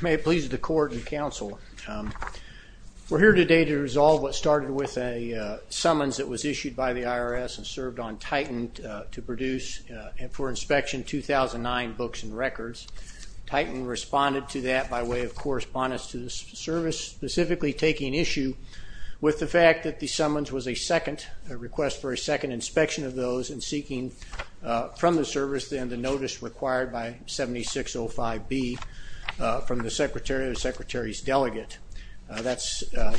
May it please the court and counsel. We're here today to resolve what started with a summons that was issued by the IRS and served on Titan to produce for inspection 2009 books and records. Titan responded to that by way of correspondence to the service, specifically taking issue with the fact that the summons was a second, a request for a second inspection of those and seeking from the service then the notice required by 7605B, from the Secretary of the Secretary's delegate. That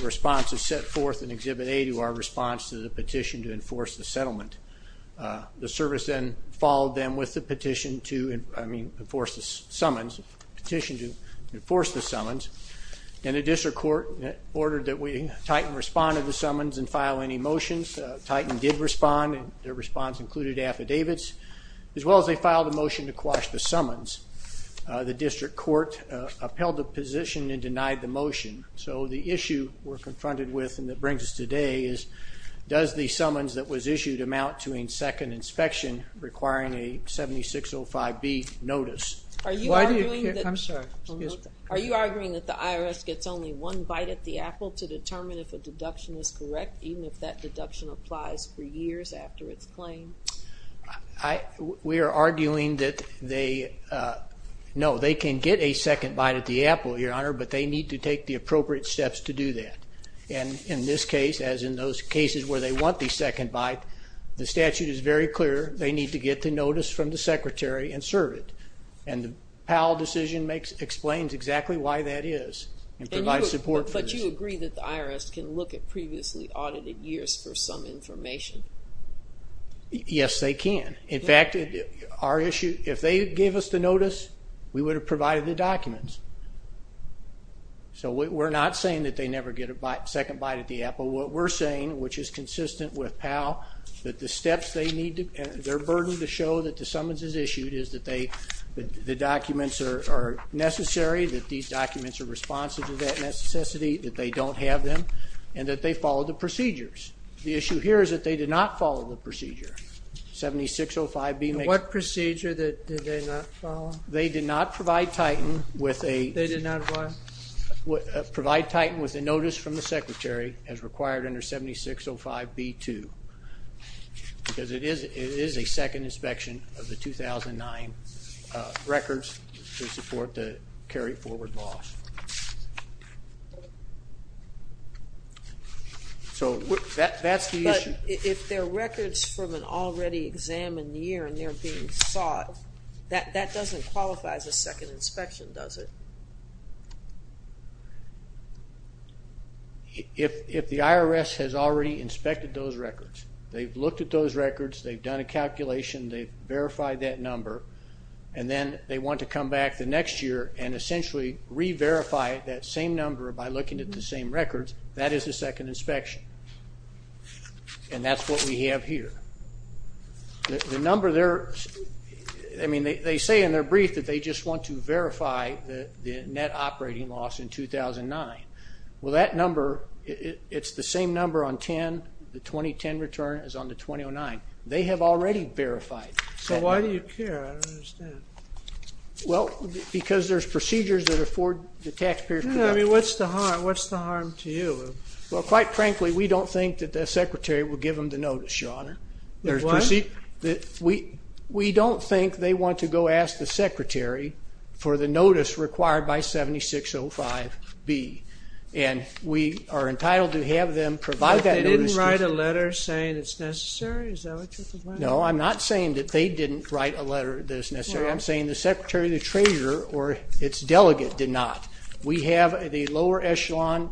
response is set forth in Exhibit A to our response to the petition to enforce the settlement. The service then followed them with the petition to, I mean, enforce the summons, petition to enforce the summons and the district court ordered that we Titan respond to the summons and file any motions. Titan did respond and their response included affidavits as well as they filed a motion to quash the court, upheld the position and denied the motion. So the issue we're confronted with and that brings us today is, does the summons that was issued amount to a second inspection requiring a 7605B notice? Are you arguing that the IRS gets only one bite at the apple to determine if a deduction is correct, even if that deduction applies for years after its claim? I, we are arguing that they know they can get a second bite at the apple, your honor, but they need to take the appropriate steps to do that. And in this case, as in those cases where they want the second bite, the statute is very clear. They need to get the notice from the secretary and serve it. And the Powell decision makes, explains exactly why that is and provides support. But you agree that the IRS can look at previously audited years for some information? Yes, they can. In fact, if our issue, if they gave us the notice, we would have provided the documents. So we're not saying that they never get a second bite at the apple. What we're saying, which is consistent with Powell, that the steps they need to, their burden to show that the summons is issued is that they, the documents are necessary, that these documents are responsive to that necessity, that they don't have them, and that they follow the procedures. The issue here is that they did not follow the procedure. 7605B. What procedure did they not follow? They did not provide Titan with a, they did not what? Provide Titan with a notice from the secretary as required under 7605B2. Because it is, it is a second inspection of the 2009 records to support the carry forward laws. So that's the issue. But if they're records from an already examined year and they're being sought, that doesn't qualify as a second inspection, does it? If the IRS has already inspected those records, they've looked at those records, they've done a calculation, they've verified that number, and then they want to come back the next year and essentially re-verify that same number by looking at the same records, that is a second inspection. And that's what we have here. The number there, I mean, they say in their brief that they just want to verify the net operating loss in 2009. Well, that number, it's the same number on 10, the 2010 return is on the 2009. They have already verified. So why do you care? I don't understand. Well, because there's procedures that afford the taxpayers. I mean, what's the harm? What's the harm to you? Well, quite frankly, we don't think that the secretary will give them the notice, your honor. There's proceed. We don't think they want to go ask the secretary for the notice required by 7605B. And we are entitled to have them provide that notice. They didn't write a letter saying it's necessary? No, I'm not saying that they didn't write a letter that's necessary. I'm saying the secretary of the treasurer or its delegate did not. We have the lower echelon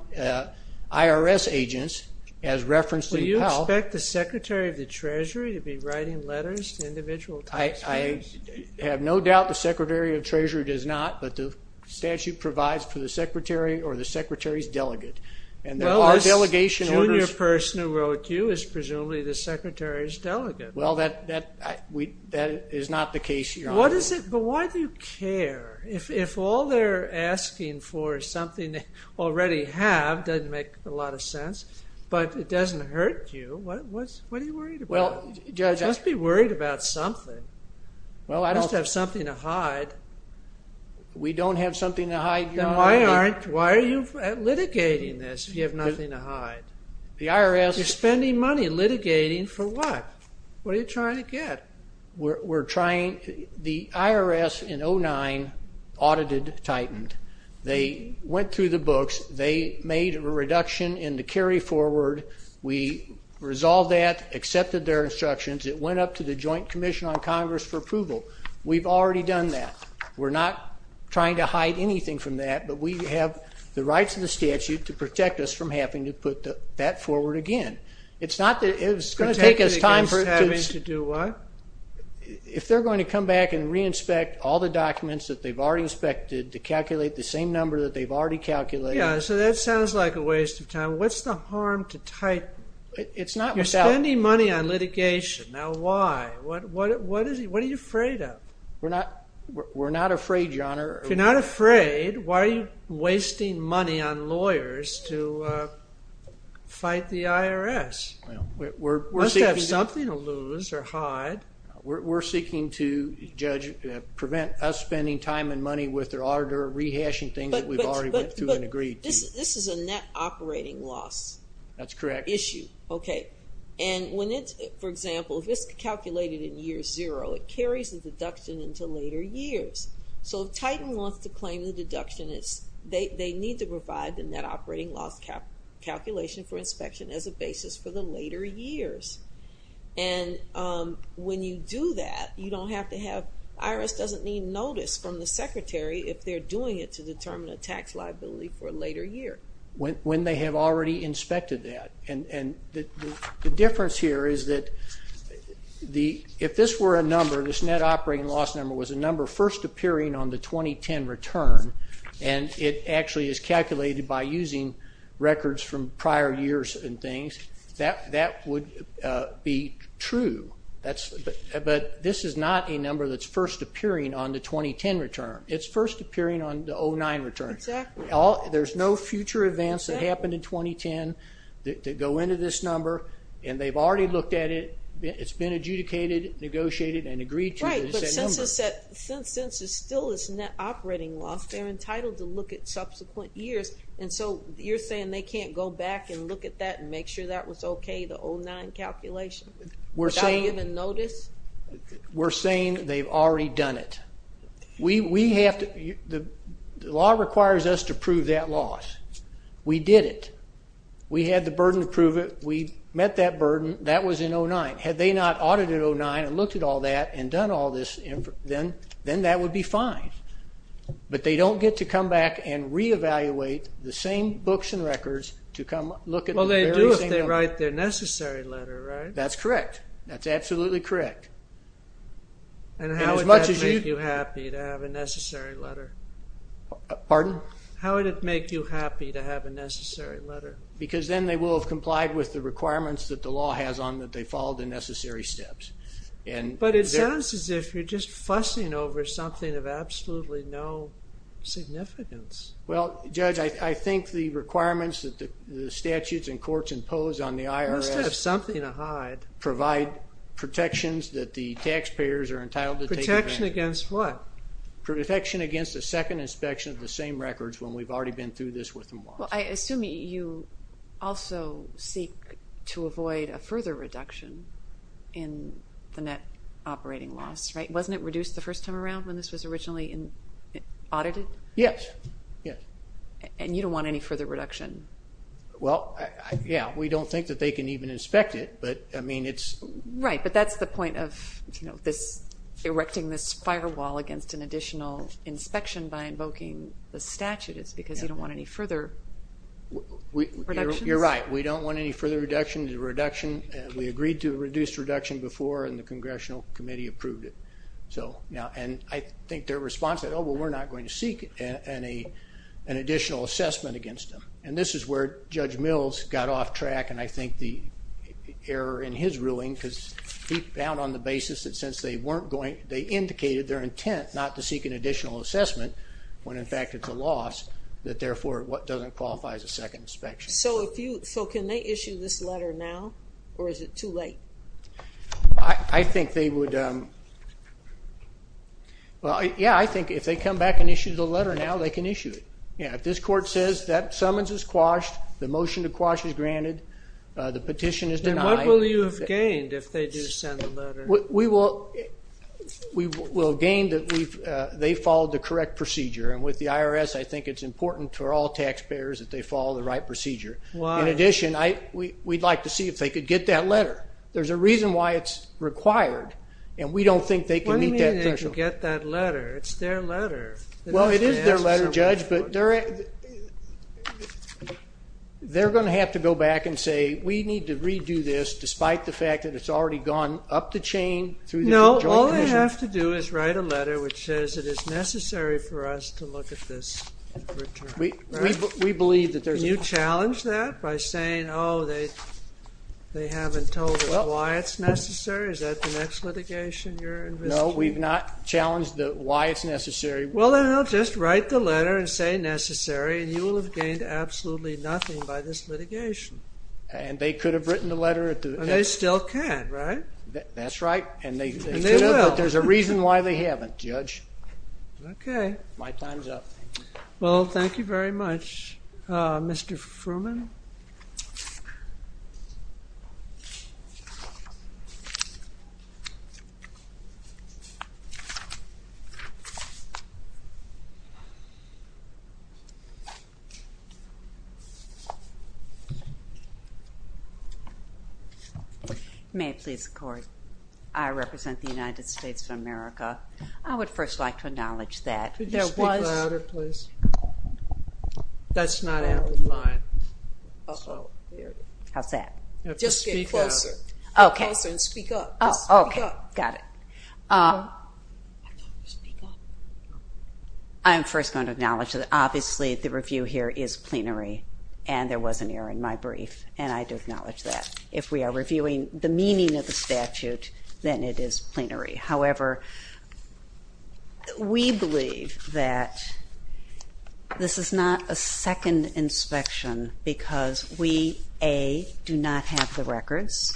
IRS agents as referenced in the Pell. Will you expect the secretary of the treasury to be writing letters to individual taxpayers? I have no doubt the secretary of treasurer does not, but the statute provides for the secretary or the secretary's delegate. Well, the junior person who wrote you is not the case, your honor. But why do you care? If all they're asking for is something they already have, doesn't make a lot of sense, but it doesn't hurt you, what are you worried about? Just be worried about something. Well, I don't have something to hide. We don't have something to hide. Then why aren't, why are you litigating this if you have nothing to hide? The IRS. You're spending money litigating for what? What are you trying to get? We're trying, the IRS in 2009 audited Titan. They went through the books, they made a reduction in the carry forward. We resolved that, accepted their instructions, it went up to the Joint Commission on Congress for approval. We've already done that. We're not trying to hide anything from that, but we have the rights of the statute to protect us from having to put that forward again. It's not that, it's going to take us time to do what? If they're going to come back and re-inspect all the documents that they've already inspected to calculate the same number that they've already calculated. Yeah, so that sounds like a waste of time. What's the harm to Titan? It's not without. You're spending money on litigation, now why? What, what, what is it, what are you afraid of? We're not, we're not afraid, your honor. If you're not afraid to fight the IRS. We must have something to lose or hide. We're seeking to, Judge, prevent us spending time and money with their auditor rehashing things that we've already went through and agreed to. This is a net operating loss. That's correct. Issue. Okay, and when it's, for example, if it's calculated in year zero, it carries the deduction into later years. So if Titan wants to claim the deduction, it's, they have a calculation for inspection as a basis for the later years. And when you do that, you don't have to have, IRS doesn't need notice from the secretary if they're doing it to determine a tax liability for a later year. When they have already inspected that, and the difference here is that the, if this were a number, this net operating loss number was a number first appearing on the 2010 return, and it actually is calculated by using records from prior years and things, that would be true. That's, but this is not a number that's first appearing on the 2010 return. It's first appearing on the 2009 return. Exactly. There's no future events that happened in 2010 that go into this number, and they've already looked at it. It's been adjudicated, negotiated, and that operating loss, they're entitled to look at subsequent years, and so you're saying they can't go back and look at that and make sure that was okay, the 0-9 calculation, without even notice? We're saying they've already done it. We have to, the law requires us to prove that loss. We did it. We had the burden to prove it. We met that burden. That was in 0-9. Had they not audited 0-9 and looked at all that and done all this, then that would be fine, but they don't get to come back and re-evaluate the same books and records to come look at the very same. Well, they do if they write their necessary letter, right? That's correct. That's absolutely correct. And how would that make you happy to have a necessary letter? Pardon? How would it make you happy to have a necessary letter? Because then they will have complied with the requirements that the law has on that they follow the It sounds as if you're just fussing over something of absolutely no significance. Well, Judge, I think the requirements that the statutes and courts impose on the IRS provide protections that the taxpayers are entitled to take advantage of. Protection against what? Protection against a second inspection of the same records when we've already been through this with them once. Well, I assume you also seek to avoid a further reduction in the net operating loss, right? Wasn't it reduced the first time around when this was originally audited? Yes, yes. And you don't want any further reduction? Well, yeah, we don't think that they can even inspect it, but I mean it's... Right, but that's the point of, you know, this erecting this firewall against an additional inspection by invoking the statute is because you don't want any further reductions? You're right. We don't want any further reduction. The reduction, we agreed to a reduced reduction before and the Congressional Committee approved it. So now, and I think their response said, oh well, we're not going to seek an additional assessment against them. And this is where Judge Mills got off track and I think the error in his ruling because he found on the basis that since they weren't going, they indicated their therefore what doesn't qualify as a second inspection. So if you, so can they issue this letter now or is it too late? I think they would, well yeah, I think if they come back and issue the letter now, they can issue it. Yeah, if this court says that summons is quashed, the motion to quash is granted, the petition is denied. Then what will you have gained if they do send a letter? We will gain that they followed the correct procedure and with the IRS, I think it's important for all taxpayers that they follow the right procedure. In addition, we'd like to see if they could get that letter. There's a reason why it's required and we don't think they can meet that threshold. What do you mean they can get that letter? It's their letter. Well, it is their letter, Judge, but they're going to have to go back and say we need to redo this despite the fact that it's already gone up the chain. No, all they have to do is write a letter which says it is necessary for us to look at this. We believe that there's a... Can you challenge that by saying, oh, they haven't told us why it's necessary? Is that the next litigation you're investigating? No, we've not challenged why it's necessary. Well, then I'll just write the letter and say necessary and you will have gained absolutely nothing by this litigation. And they could have written the letter at the end. They still can, right? That's right, and there's a reason why they Well, thank you very much. Mr. Fruman? May it please the Court, I represent the United States of America. I would first like to acknowledge that there was... Could you speak louder, please? That's not out of line. How's that? Just get closer. Okay. And speak up. Okay, got it. I'm first going to acknowledge that obviously the review here is plenary and there was an error in my brief and I do acknowledge that. If we are reviewing the meaning of the We believe that this is not a second inspection because we, A, do not have the records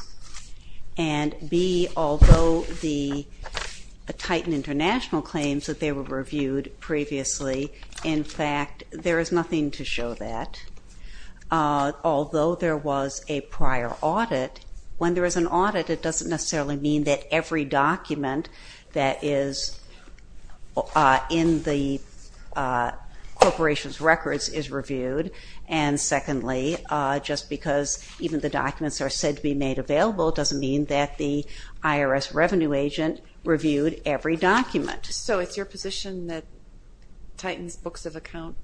and B, although the Titan International claims that they were reviewed previously, in fact, there is nothing to show that. Although there was a prior audit, when there is an audit it doesn't necessarily mean that every in the corporation's records is reviewed and secondly just because even the documents are said to be made available doesn't mean that the IRS revenue agent reviewed every document. So it's your position that Titan's books of account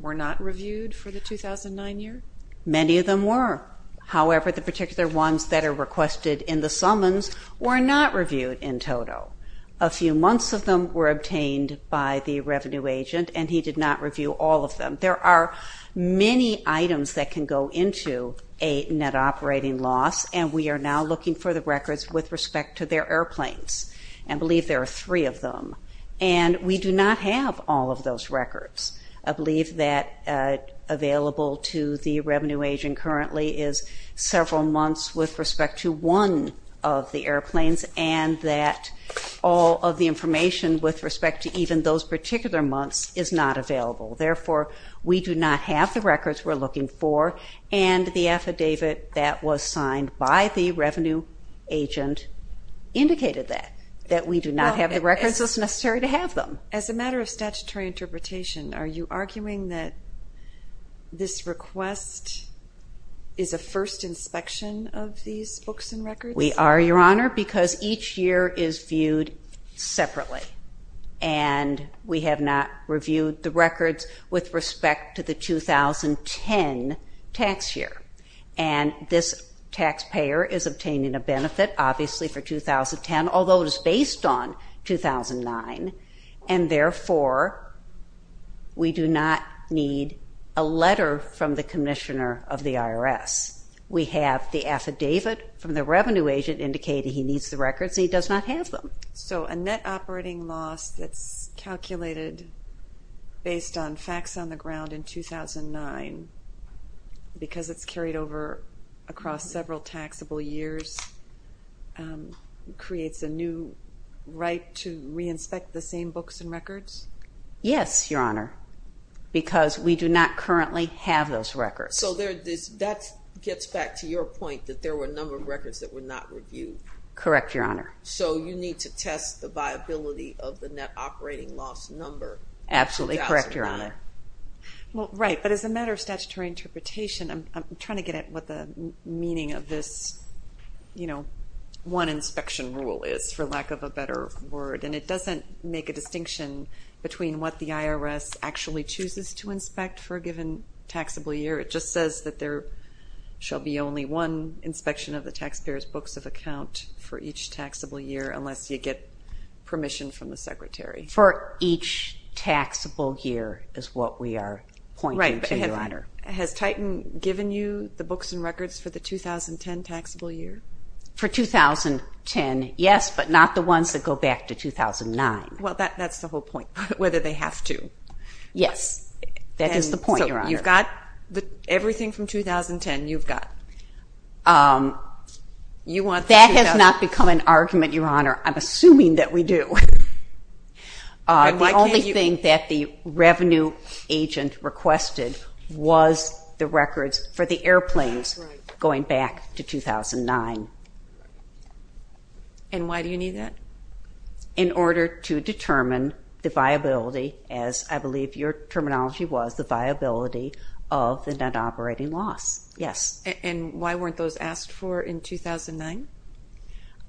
were not reviewed for the 2009 year? Many of them were. However, the particular ones that are requested in the summons were not reviewed in total. A few months of them were obtained by the revenue agent and he did not review all of them. There are many items that can go into a net operating loss and we are now looking for the records with respect to their airplanes. I believe there are three of them and we do not have all of those records. I believe that available to the revenue agent currently is several months with respect to one of the information with respect to even those particular months is not available. Therefore, we do not have the records we're looking for and the affidavit that was signed by the revenue agent indicated that, that we do not have the records. It's necessary to have them. As a matter of statutory interpretation, are you arguing that this request is a first inspection of these books and records? We are, Your Honor, because each year is viewed separately and we have not reviewed the records with respect to the 2010 tax year and this taxpayer is obtaining a benefit, obviously for 2010, although it is based on 2009 and therefore we do not need a letter from the Commissioner of the IRS. We have the revenue agent indicated he needs the records, he does not have them. So a net operating loss that's calculated based on facts on the ground in 2009 because it's carried over across several taxable years creates a new right to re-inspect the same books and records? Yes, Your Honor, because we do not currently have those records. So that gets back to your point that there were a number of books that were not reviewed. Correct, Your Honor. So you need to test the viability of the net operating loss number. Absolutely correct, Your Honor. Well, right, but as a matter of statutory interpretation, I'm trying to get at what the meaning of this, you know, one inspection rule is, for lack of a better word, and it doesn't make a distinction between what the IRS actually chooses to inspect for a given taxable year. It just says that there shall be only one books of account for each taxable year unless you get permission from the Secretary. For each taxable year is what we are pointing to, Your Honor. Right, but has Titan given you the books and records for the 2010 taxable year? For 2010, yes, but not the ones that go back to 2009. Well, that's the whole point, whether they have to. Yes, that is the point, Your Honor. You've got everything from 2010, you've got... That has not become an argument, Your Honor. I'm assuming that we do. The only thing that the revenue agent requested was the records for the airplanes going back to 2009. And why do you need that? In order to determine the viability, as I believe your terminology was, the viability of the net operating loss. Yes. And why weren't those asked for in 2009?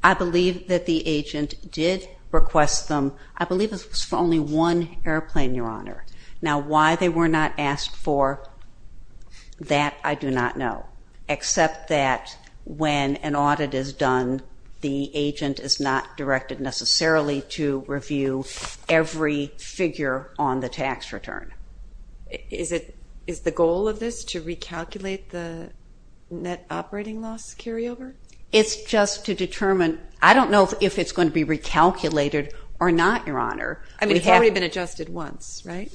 I believe that the agent did request them. I believe it was for only one airplane, Your Honor. Now why they were not asked for, that I do not know, except that when an audit is done, the agent is not directed necessarily to review every figure on the tax return. Is the goal of this to recalculate the net operating loss carryover? It's just to determine. I don't know if it's going to be recalculated or not, Your Honor. I mean, it's already been adjusted once, right?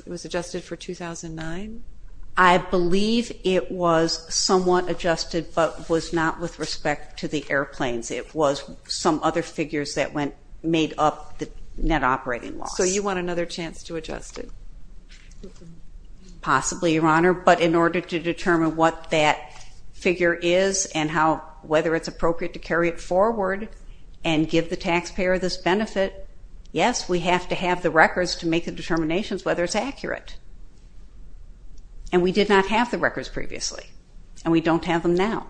It was adjusted for 2009? I believe it was somewhat adjusted, but was not with respect to the airplanes. It was some other figures that made up the net operating loss. So you want another chance to adjust it? Possibly, Your Honor, but in order to determine what that figure is and whether it's appropriate to carry it forward and give the taxpayer this benefit, yes, we have to have the records to make the determinations whether it's accurate. And we did not have the records previously, and we don't have them now.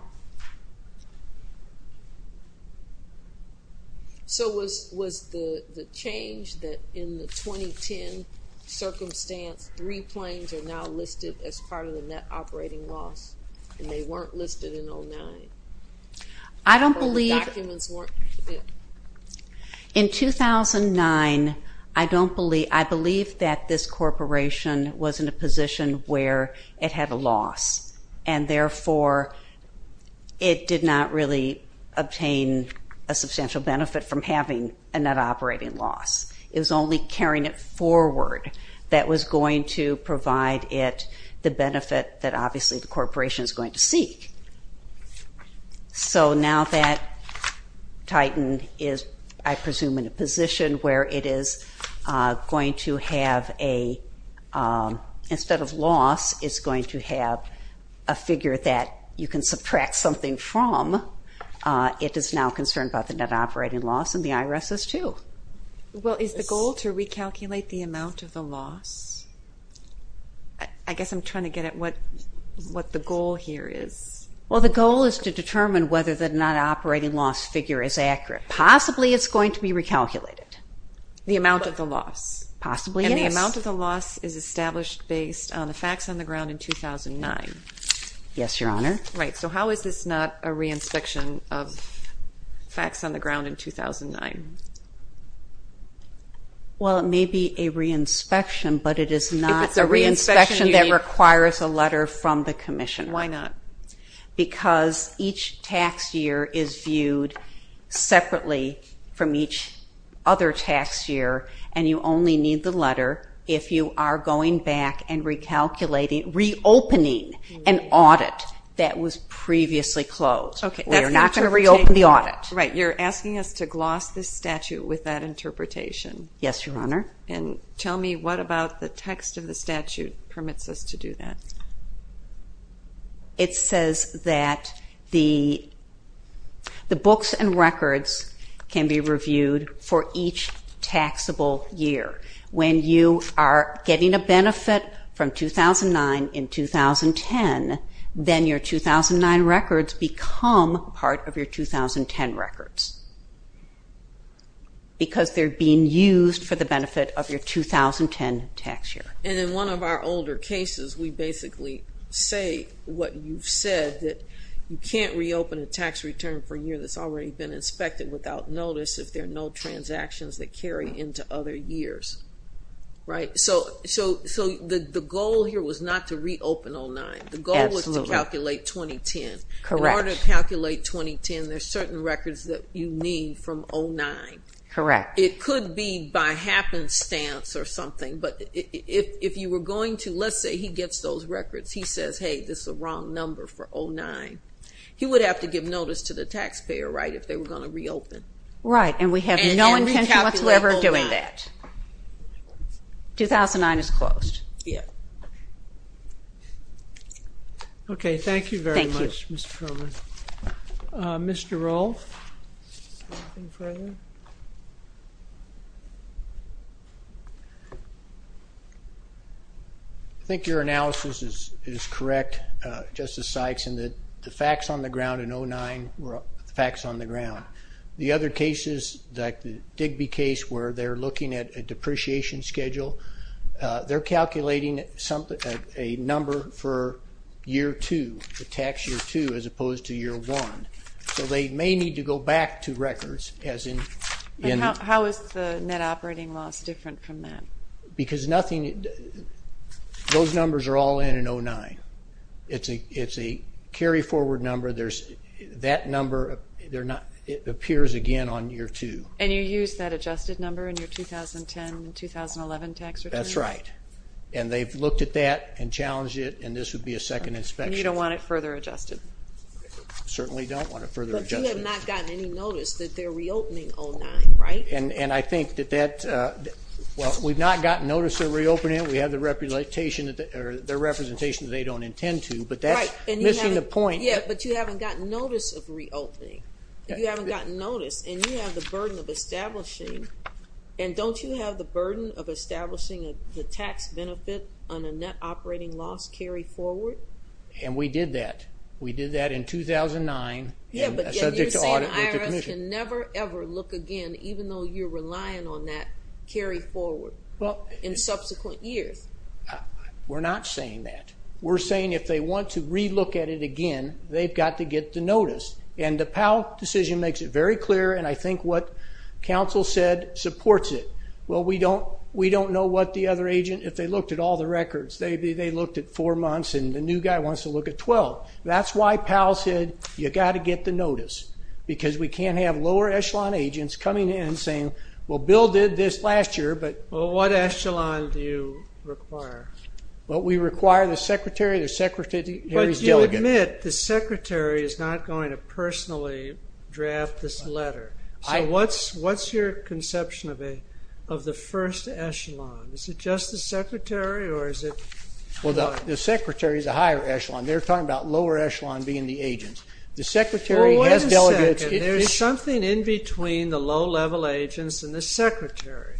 So was the change that in the 2010 circumstance three planes are now listed as part of the net operating loss, and they weren't listed in 2009? I don't believe, in 2009, I don't believe, I believe that this therefore it did not really obtain a substantial benefit from having a net operating loss. It was only carrying it forward that was going to provide it the benefit that obviously the corporation is going to seek. So now that Titan is, I presume, in a position where it is going to have a, instead of loss, it's going to have a figure that you can subtract something from, it is now concerned about the net operating loss, and the IRS is too. Well, is the goal to recalculate the amount of the loss? I guess I'm trying to get at what the goal here is. Well, the goal is to determine whether the net operating loss figure is accurate. Possibly it's going to be recalculated. The amount of the loss? Possibly, yes. And the facts on the ground in 2009? Yes, Your Honor. Right, so how is this not a re-inspection of facts on the ground in 2009? Well, it may be a re-inspection, but it is not a re-inspection that requires a letter from the Commissioner. Why not? Because each tax year is viewed separately from each other tax year, and you only need the letter if you are going back and recalculating, reopening an audit that was previously closed. Okay. We are not going to reopen the audit. Right, you're asking us to gloss this statute with that interpretation. Yes, Your Honor. And tell me what about the text of the statute permits us to do that? It says that the books and records can be reviewed for each taxable year. When you are getting a benefit from 2009 in 2010, then your 2009 records become part of your 2010 records, because they're being used for the benefit of your 2010 tax year. And in one of our older cases, we basically say what you've said, that you can't reopen a tax return for a year that's already been inspected without notice if there are no transactions that carry into other years. Right, so the goal here was not to reopen 2009. The goal was to calculate 2010. Correct. In order to calculate 2010, there's certain records that you need from 2009. Correct. It could be by happenstance or something, but if you were going to, let's say he gets those records, he says, hey, this is the wrong number for 2009. He would have to give notice to the taxpayer, right, if they were going to reopen. Right, and we have no intention whatsoever of doing that. 2009 is closed. Yeah. Okay, thank you very much, Mr. Perlman. Mr. Rolf. I think your analysis is correct, Justice Sykes, in that the facts on the ground in 2009 were the facts on the ground. The other cases, like the Digby case, where they're looking at a depreciation schedule, they're calculating a number for year 2, the tax year 2, as opposed to year 1. So they may need to go back to records, as in... How is the net operating loss different from that? Because nothing, those numbers are all in in 2009. It's a carry-forward number. That number, it appears again on year 2. And you use that adjusted number in your 2010 and 2011 tax returns? That's right, and they've looked at that and challenged it, and this would be a second inspection. You don't want it further adjusted? Certainly don't want it further adjusted. But you have not gotten any notice that they're reopening 2009, right? And I think that that, well, we've not gotten notice of reopening, we have the representation that they don't intend to, but that's missing the point. Yeah, but you haven't gotten notice of establishing, and don't you have the burden of establishing the tax benefit on a net operating loss carry-forward? And we did that. We did that in 2009. Yeah, but you're saying the IRS can never ever look again, even though you're relying on that carry-forward in subsequent years? We're not saying that. We're saying if they want to re-look at it again, they've got to get the notice. And the Powell decision makes it very clear. Council said supports it. Well, we don't know what the other agent, if they looked at all the records. They looked at four months, and the new guy wants to look at 12. That's why Powell said you got to get the notice, because we can't have lower echelon agents coming in saying, well, Bill did this last year, but... Well, what echelon do you require? Well, we require the Secretary, the Secretary's delegate. But you admit the Secretary is not going to personally draft this letter. So what's your conception of the first echelon? Is it just the Secretary, or is it...? Well, the Secretary is a higher echelon. They're talking about lower echelon being the agents. The Secretary has delegates... Well, wait a second. There's something in between the low-level agents and the Secretary.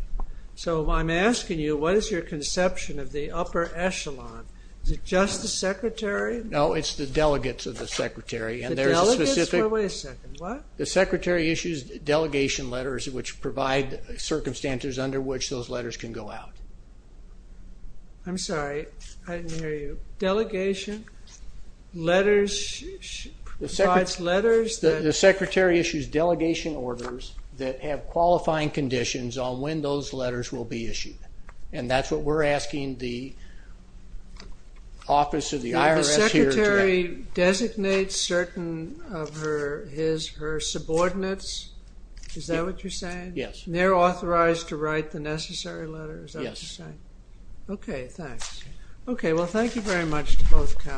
So I'm asking you, what is your conception of the upper echelon? Is it just the Secretary? No, it's the delegates of the Secretary, and there's a specific... Wait a second. What? The Secretary issues delegation letters, which provide circumstances under which those letters can go out. I'm sorry, I didn't hear you. Delegation letters... The Secretary issues delegation orders that have qualifying conditions on when those letters will be issued, and that's what we're asking the office of the IRS here today. The Secretary designates certain of his or her subordinates, is that what you're saying? Yes. And they're authorized to write the necessary letters, is that what you're saying? Yes. Okay, thanks. Okay, well, thank you very much to both counties.